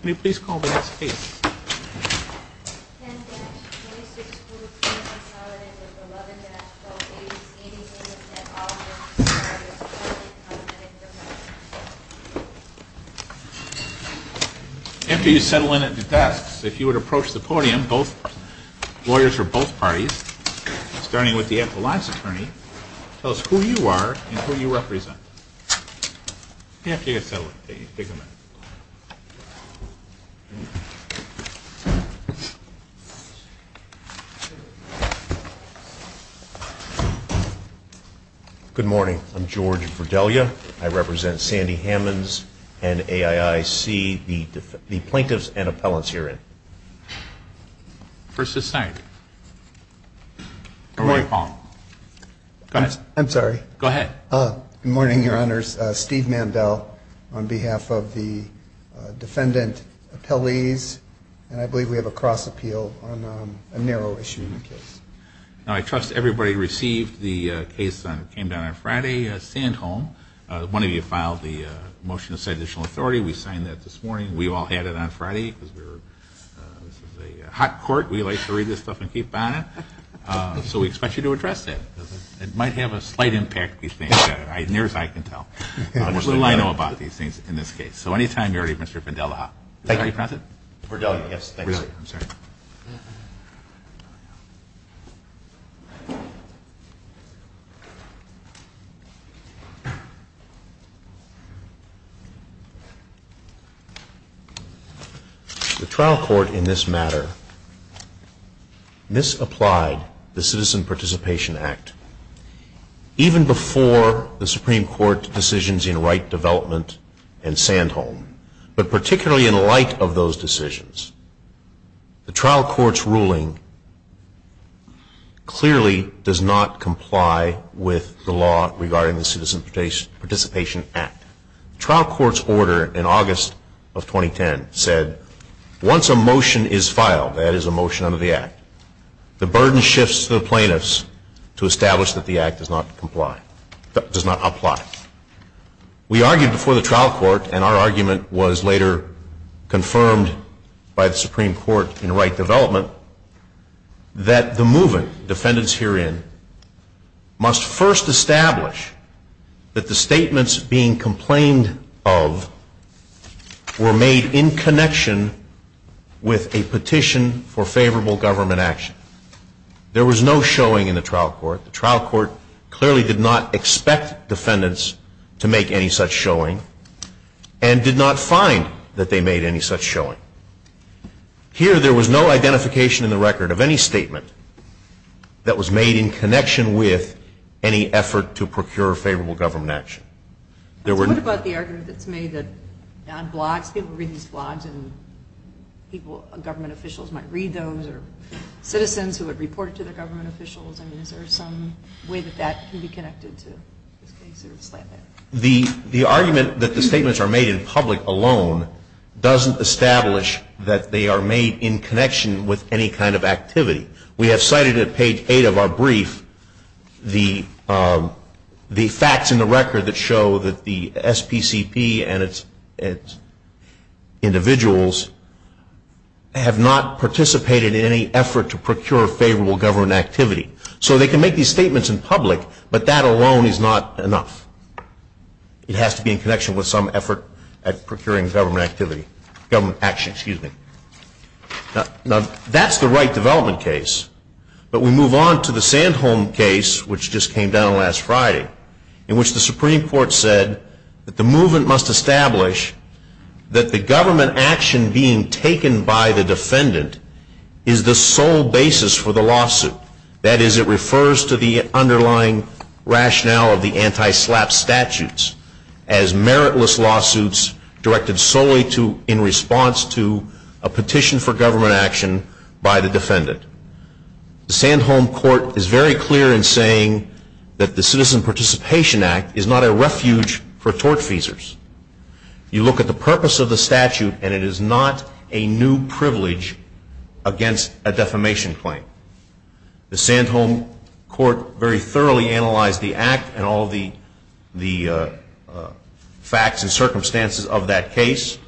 Can you please call the next case? After you settle in at the desks, if you would approach the podium, both lawyers from both parties, starting with the epilogue's attorney, tell us who you are and who you represent. After you settle in, take a minute. Good morning. I'm George Verdelia. I represent Sandy Hammons and AIIC, the plaintiffs and appellants herein. First this night. Good morning, Paul. I'm sorry. Go ahead. Good morning, Your Honors. Steve Mandel on behalf of the defendant appellees. And I believe we have a cross appeal on a narrow issue in the case. Now, I trust everybody received the case that came down on Friday, Sand Home. One of you filed the motion to set additional authority. We signed that this morning. We all had it on Friday because this is a hot court. We like to read this stuff and keep on it. So we expect you to address that. It might have a slight impact. Near as I can tell. Little I know about these things in this case. So anytime you're ready, Mr. Vendelia. Thank you, Your Honor. Verdelia, yes, thank you, sir. Verdelia, I'm sorry. The trial court in this matter misapplied the Citizen Participation Act. Even before the Supreme Court decisions in Wright Development and Sand Home, but particularly in light of those decisions, the trial court's ruling clearly does not comply with the law regarding the Citizen Participation Act. The trial court's order in August of 2010 said once a motion is filed, that is a motion under the Act, the burden shifts to the plaintiffs to establish that the Act does not apply. We argued before the trial court, and our argument was later confirmed by the Supreme Court in Wright Development, that the moving defendants herein must first establish that the statements being complained of were made in connection with a petition for favorable government action. There was no showing in the trial court. The trial court clearly did not expect defendants to make any such showing. And did not find that they made any such showing. Here there was no identification in the record of any statement that was made in connection with any effort to procure favorable government action. What about the argument that's made that on blogs, people read these blogs and government officials might read those, or citizens who have reported to their government officials, is there some way that that can be connected to this case? The argument that the statements are made in public alone doesn't establish that they are made in connection with any kind of activity. We have cited at page eight of our brief the facts in the record that show that the SPCP and its individuals have not participated in any effort to procure favorable government activity. So they can make these statements in public, but that alone is not enough. It has to be in connection with some effort at procuring government activity, government action, excuse me. Now that's the Wright development case. But we move on to the Sandholm case, which just came down last Friday, in which the Supreme Court said that the movement must establish that the government action being taken by the defendant is the sole basis for the lawsuit. That is, it refers to the underlying rationale of the anti-SLAPP statutes as meritless lawsuits directed solely in response to a petition for government action by the defendant. The Sandholm court is very clear in saying that the Citizen Participation Act is not a refuge for tortfeasors. You look at the purpose of the statute and it is not a new privilege against a defamation claim. The Sandholm court very thoroughly analyzed the act and all the facts and circumstances of that case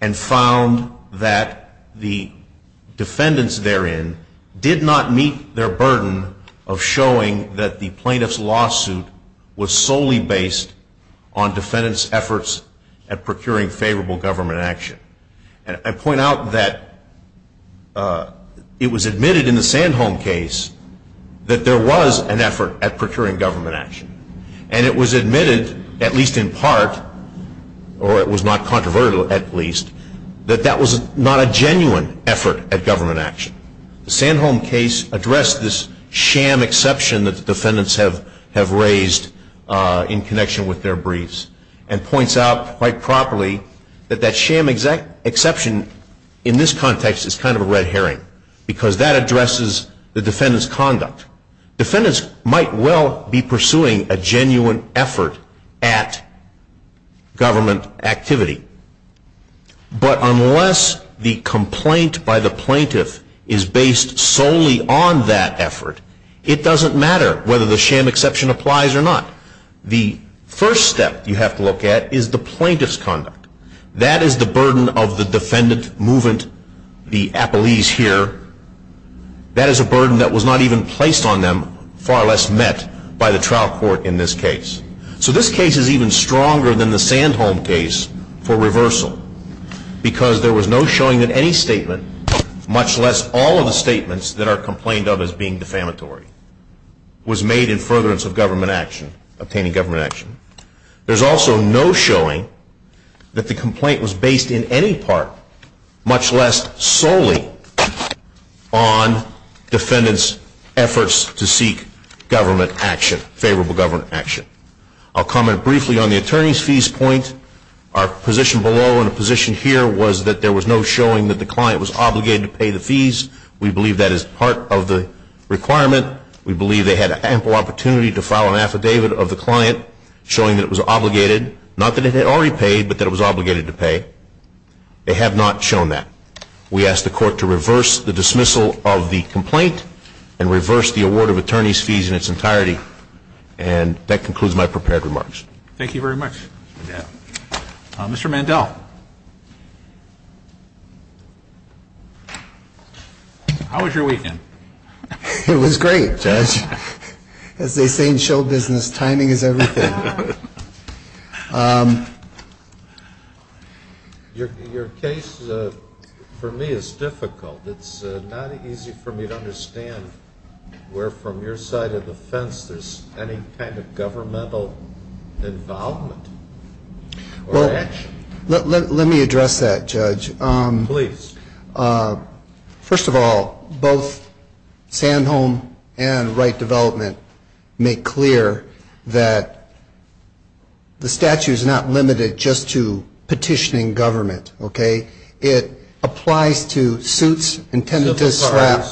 and found that the defendants therein did not meet their burden of showing that the plaintiff's lawsuit was solely based on defendants' efforts at procuring favorable government action. I point out that it was admitted in the Sandholm case that there was an effort at procuring government action. And it was admitted, at least in part, or it was not controversial at least, that that was not a genuine effort at government action. The Sandholm case addressed this sham exception that the defendants have raised in connection with their briefs and points out quite properly that that sham exception in this context is kind of a red herring because that addresses the defendant's conduct. Defendants might well be pursuing a genuine effort at government activity, but unless the complaint by the plaintiff is based solely on that effort, it doesn't matter whether the sham exception applies or not. The first step you have to look at is the plaintiff's conduct. That is the burden of the defendant, movement, the appellees here. That is a burden that was not even placed on them, far less met by the trial court in this case. So this case is even stronger than the Sandholm case for reversal because there was no showing that any statement, much less all of the statements that are complained of as being defamatory, was made in furtherance of government action, obtaining government action. There's also no showing that the complaint was based in any part, much less solely on defendants' efforts to seek government action, favorable government action. I'll comment briefly on the attorney's fees point. Our position below and the position here was that there was no showing that the client was obligated to pay the fees. We believe that is part of the requirement. We believe they had ample opportunity to file an affidavit of the client showing that it was obligated, not that it had already paid, but that it was obligated to pay. They have not shown that. We ask the court to reverse the dismissal of the complaint and reverse the award of attorney's fees in its entirety. And that concludes my prepared remarks. Thank you very much. Mr. Mandel. How was your weekend? It was great, Judge. As they say in show business, timing is everything. Your case for me is difficult. It's not easy for me to understand where, from your side of the fence, there's any kind of governmental involvement or action. Let me address that, Judge. Please. First of all, both Sandholm and Wright Development make clear that the statute is not limited just to petitioning government, okay? It applies to suits intended to strap.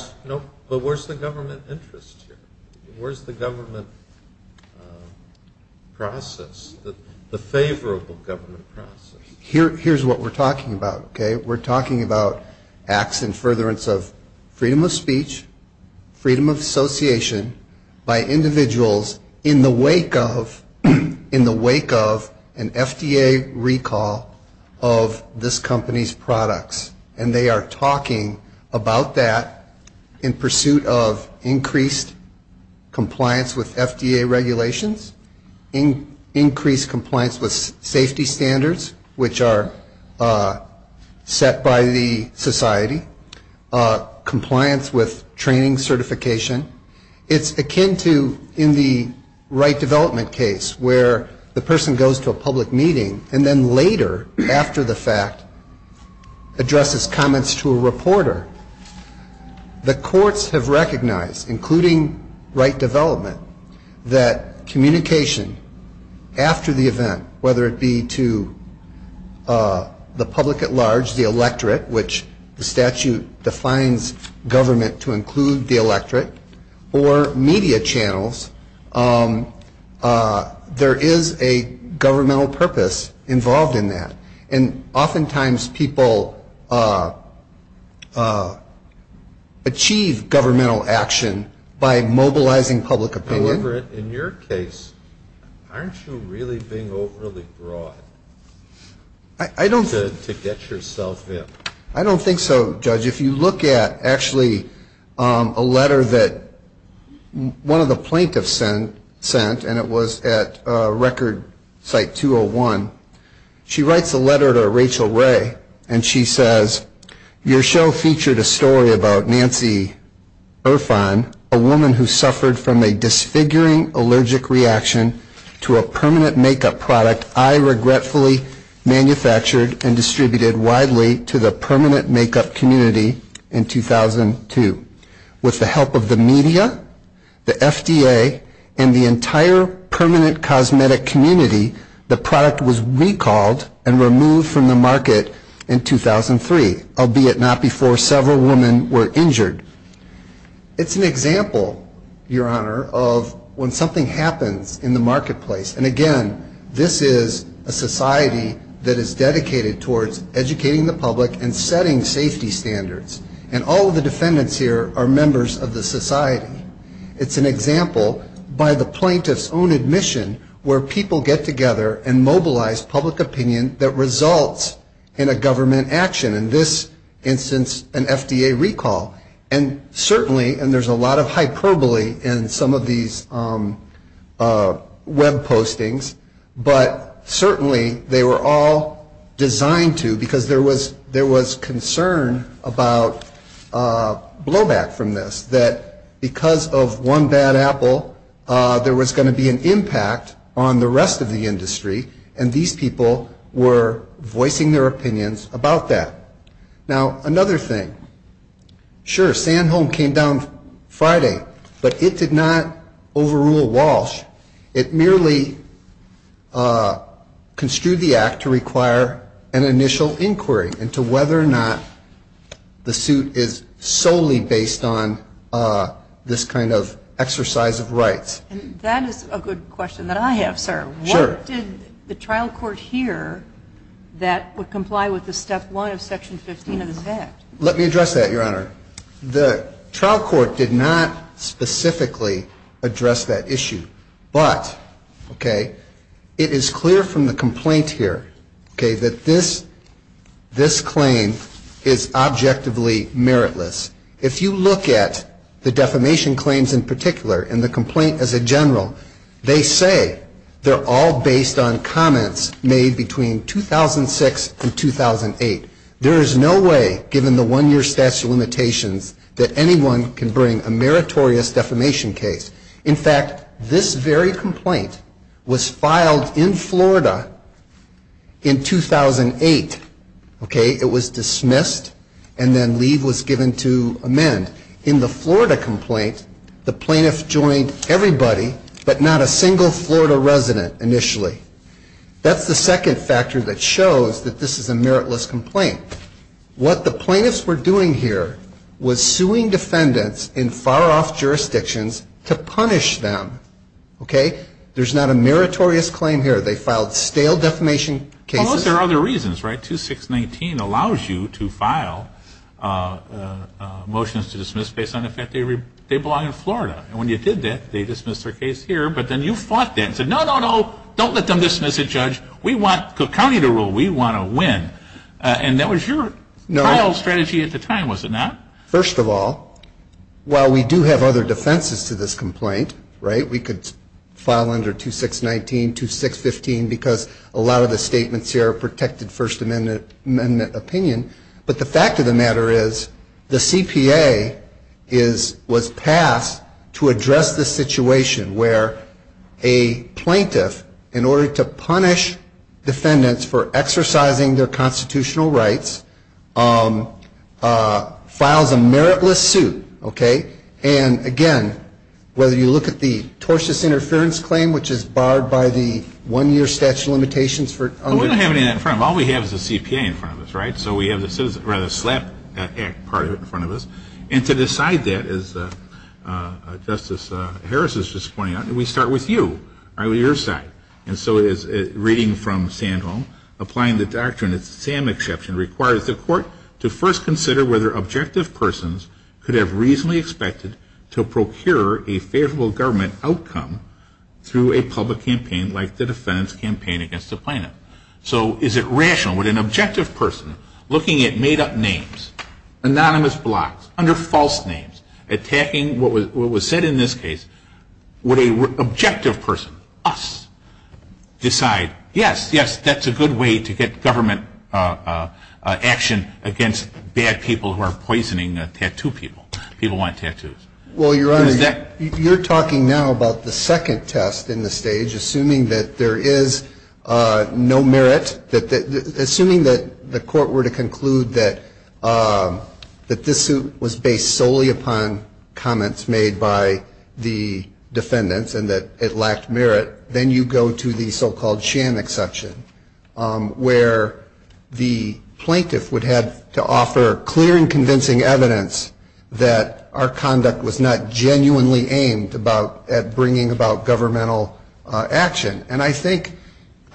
But where's the government interest here? Where's the government process, the favorable government process? Here's what we're talking about, okay? We're talking about acts in furtherance of freedom of speech, freedom of association by individuals in the wake of an FDA recall of this company's products, and they are talking about that in pursuit of increased compliance with FDA regulations, increased compliance with safety standards, which are set by the society, compliance with training certification. It's akin to, in the Wright Development case, where the person goes to a public meeting and then later, after the fact, addresses comments to a reporter. The courts have recognized, including Wright Development, that communication after the event, whether it be to the public at large, the electorate, which the statute defines government to include the electorate, or media channels, there is a governmental purpose involved in that. And oftentimes people achieve governmental action by mobilizing public opinion. However, in your case, aren't you really being overly broad to get yourself in? I don't think so, Judge. If you look at, actually, a letter that one of the plaintiffs sent, and it was at record site 201. She writes a letter to Rachel Ray, and she says, your show featured a story about Nancy Irfan, a woman who suffered from a disfiguring allergic reaction to a permanent makeup product I regretfully manufactured and distributed widely to the permanent makeup community in 2002. With the help of the media, the FDA, and the entire permanent cosmetic community, the product was recalled and removed from the market in 2003, albeit not before several women were injured. It's an example, your Honor, of when something happens in the marketplace. And again, this is a society that is dedicated towards educating the public and setting safety standards. And all of the defendants here are members of the society. It's an example, by the plaintiff's own admission, where people get together and mobilize public opinion that results in a government action, in this instance, an FDA recall. And certainly, and there's a lot of hyperbole in some of these web postings, but certainly they were all designed to, because there was concern about blowback from this, that because of one bad apple, there was going to be an impact on the rest of the industry, and these people were voicing their opinions about that. Now, another thing. Sure, San Home came down Friday, but it did not overrule Walsh. It merely construed the act to require an initial inquiry into whether or not the suit is solely based on this kind of exercise of rights. And that is a good question that I have, sir. Sure. What did the trial court hear that would comply with the step one of section 15 of this act? Let me address that, your Honor. The trial court did not specifically address that issue. But, okay, it is clear from the complaint here, okay, that this claim is objectively meritless. If you look at the defamation claims in particular and the complaint as a general, they say they're all based on comments made between 2006 and 2008. There is no way, given the one-year statute of limitations, that anyone can bring a meritorious defamation case. In fact, this very complaint was filed in Florida in 2008, okay? It was dismissed, and then leave was given to amend. In the Florida complaint, the plaintiff joined everybody, but not a single Florida resident initially. That's the second factor that shows that this is a meritless complaint. What the plaintiffs were doing here was suing defendants in far-off jurisdictions to punish them, okay? There's not a meritorious claim here. They filed stale defamation cases. Well, those are other reasons, right? 2619 allows you to file motions to dismiss based on the fact they belong in Florida. And when you did that, they dismissed their case here. But then you fought that and said, no, no, no, don't let them dismiss it, Judge. We want the county to rule. We want to win. And that was your trial strategy at the time, was it not? First of all, while we do have other defenses to this complaint, right, we could file under 2619, 2615, because a lot of the statements here are protected First Amendment opinion. But the fact of the matter is the CPA was passed to address the situation where a plaintiff, in order to punish defendants for exercising their constitutional rights, files a meritless suit, okay? And, again, whether you look at the tortious interference claim, which is barred by the one-year statute of limitations. We don't have any of that in front of us. All we have is the CPA in front of us, right? So we have the Slap Act part of it in front of us. And to decide that, as Justice Harris is just pointing out, we start with you, on your side. And so reading from Sandholm, applying the doctrine that SAM exception requires the court to first consider whether objective persons could have reasonably expected to procure a favorable government outcome through a public campaign like the defendants' campaign against the plaintiff. So is it rational with an objective person looking at made-up names, anonymous blocks, under false names, attacking what was said in this case, would an objective person, us, decide, yes, yes, that's a good way to get government action against bad people who are poisoning tattoo people. People want tattoos. Well, Your Honor, you're talking now about the second test in the stage, assuming that there is no merit, assuming that the court were to conclude that this suit was based solely upon comments made by the defendants and that it lacked merit, then you go to the so-called SAM exception where the plaintiff would have to offer clear and convincing evidence that our conduct was not genuinely aimed at bringing about governmental action. And I think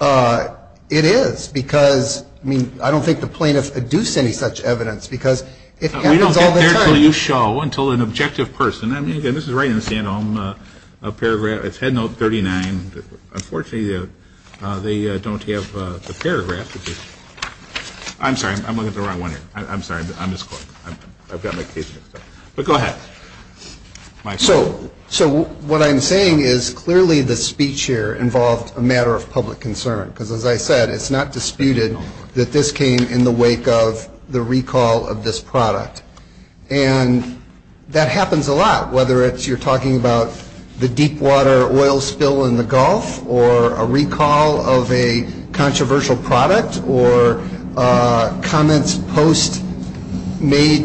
it is because, I mean, I don't think the plaintiff adduced any such evidence because it happens all the time. We don't get there until you show, until an objective person. I mean, again, this is right in the stand-alone paragraph. It's Head Note 39. Unfortunately, they don't have the paragraph. I'm sorry. I'm looking at the wrong one here. I'm sorry. I'm misquoting. I've got my case notes. But go ahead. So what I'm saying is clearly the speech here involved a matter of public concern because, as I said, it's not disputed that this came in the wake of the recall of this product. And that happens a lot, whether it's you're talking about the deep water oil spill in the Gulf or a recall of a controversial product or comments, posts made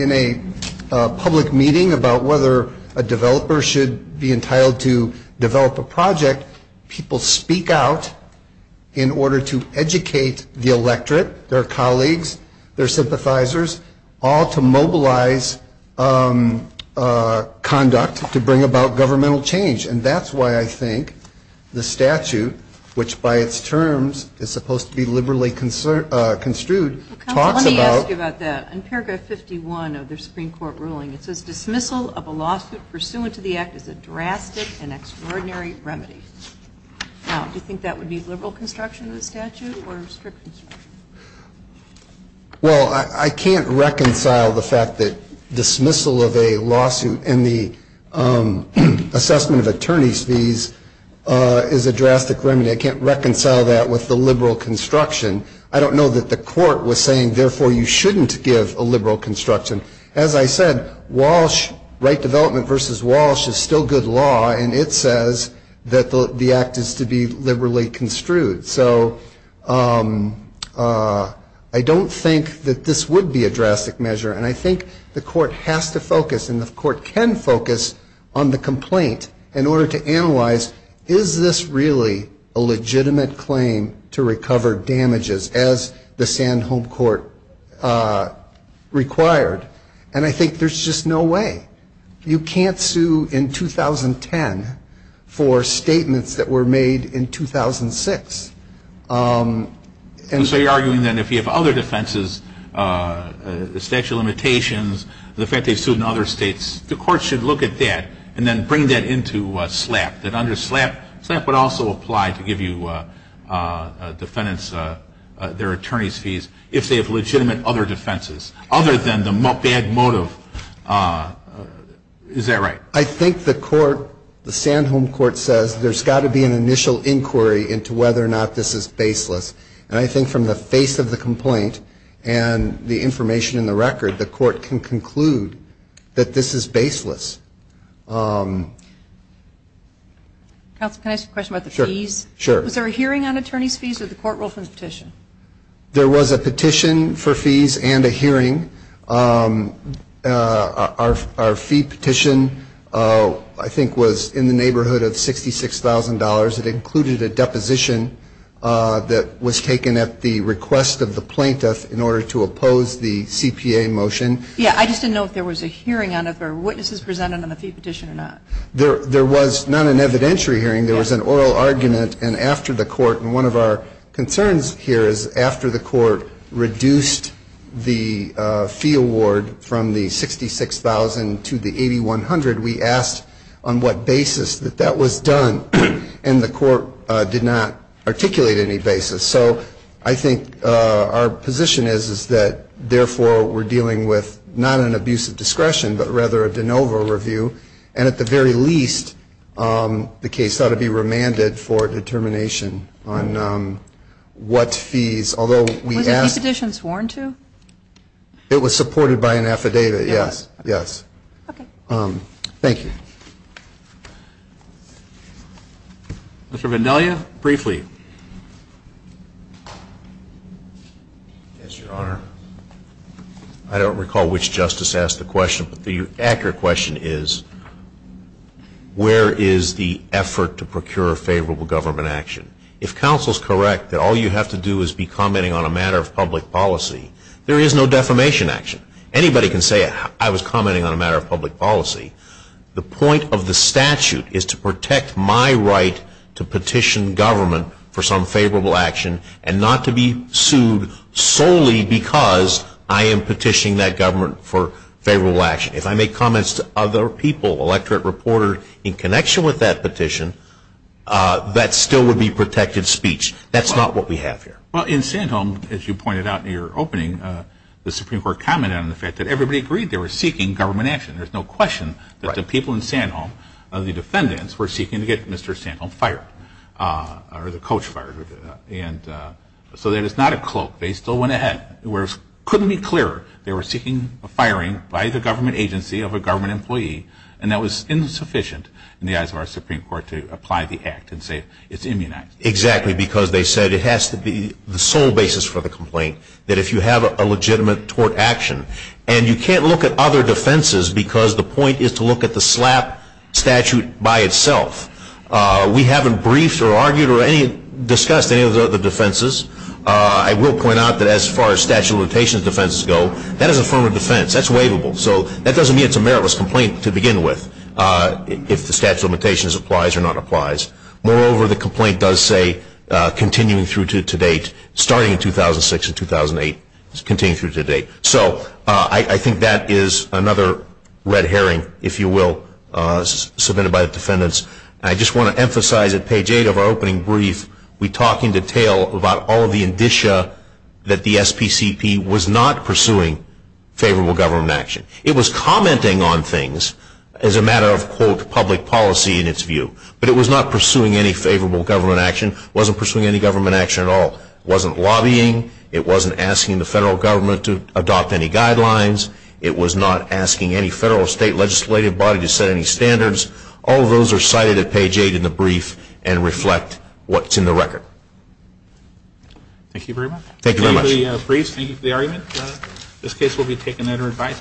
in a public meeting about whether a developer should be entitled to develop a project, people speak out in order to educate the electorate, their colleagues, their sympathizers, all to mobilize conduct to bring about governmental change. And that's why I think the statute, which by its terms is supposed to be liberally construed, talks about. Let me ask you about that. In paragraph 51 of the Supreme Court ruling, it says dismissal of a lawsuit pursuant to the act is a drastic and extraordinary remedy. Now, do you think that would be liberal construction of the statute or constrict construction? Well, I can't reconcile the fact that dismissal of a lawsuit in the assessment of attorney's fees is a drastic remedy. I can't reconcile that with the liberal construction. I don't know that the court was saying, therefore, you shouldn't give a liberal construction. As I said, Walsh, right development versus Walsh is still good law, and it says that the act is to be liberally construed. So I don't think that this would be a drastic measure, and I think the court has to focus and the court can focus on the complaint in order to analyze, is this really a legitimate claim to recover damages as the Sand Home Court required? And I think there's just no way. You can't sue in 2010 for statements that were made in 2006. And so you're arguing that if you have other defenses, the statute of limitations, the fact they sued in other states, the court should look at that and then bring that into SLAPP. That under SLAPP, SLAPP would also apply to give you defendants their attorney's fees if they have legitimate other defenses, other than the bad motive. Is that right? I think the court, the Sand Home Court says there's got to be an initial inquiry into whether or not this is baseless, and I think from the face of the complaint and the information in the record, the court can conclude that this is baseless. Counsel, can I ask a question about the fees? Sure. Was there a hearing on attorney's fees or the court ruled from the petition? There was a petition for fees and a hearing. Our fee petition, I think, was in the neighborhood of $66,000. It included a deposition that was taken at the request of the plaintiff in order to oppose the CPA motion. Yeah, I just didn't know if there was a hearing on it, if there were witnesses presented on the fee petition or not. There was not an evidentiary hearing. There was an oral argument. And after the court, and one of our concerns here is after the court reduced the fee award from the $66,000 to the $8,100, we asked on what basis that that was done, and the court did not articulate any basis. So I think our position is that, therefore, we're dealing with not an abusive discretion, but rather a de novo review. And at the very least, the case ought to be remanded for determination on what fees, although we asked. Was the fee petition sworn to? It was supported by an affidavit, yes. Okay. Thank you. Mr. Vendelia, briefly. Yes, Your Honor. I don't recall which justice asked the question, but the accurate question is, where is the effort to procure favorable government action? If counsel's correct that all you have to do is be commenting on a matter of public policy, there is no defamation action. Anybody can say, I was commenting on a matter of public policy. The point of the statute is to protect my right to petition government for some favorable action and not to be sued solely because I am petitioning that government for favorable action. If I make comments to other people, electorate, reporter, in connection with that petition, that still would be protected speech. That's not what we have here. Well, in Sandholm, as you pointed out in your opening, the Supreme Court commented on the fact that everybody agreed they were seeking government action, that the people in Sandholm, the defendants, were seeking to get Mr. Sandholm fired, or the coach fired. And so that is not a cloak. They still went ahead. It couldn't be clearer. They were seeking a firing by the government agency of a government employee, and that was insufficient in the eyes of our Supreme Court to apply the act and say it's immunized. Exactly, because they said it has to be the sole basis for the complaint, that if you have a legitimate tort action, and you can't look at other defenses because the point is to look at the SLAPP statute by itself. We haven't briefed or argued or discussed any of the other defenses. I will point out that as far as statute of limitations defenses go, that is a form of defense. That's waivable. So that doesn't mean it's a meritless complaint to begin with, if the statute of limitations applies or not applies. Moreover, the complaint does say continuing through to date, starting in 2006 and 2008, continuing through to date. So I think that is another red herring, if you will, submitted by the defendants. I just want to emphasize at page 8 of our opening brief, we talk in detail about all of the indicia that the SPCP was not pursuing favorable government action. It was commenting on things as a matter of, quote, public policy in its view. But it was not pursuing any favorable government action, wasn't pursuing any government action at all. It wasn't lobbying. It wasn't asking the federal government to adopt any guidelines. It was not asking any federal or state legislative body to set any standards. All of those are cited at page 8 in the brief and reflect what's in the record. Thank you very much. Thank you very much. Thank you for the brief. Thank you for the argument. This case will be taken under advice.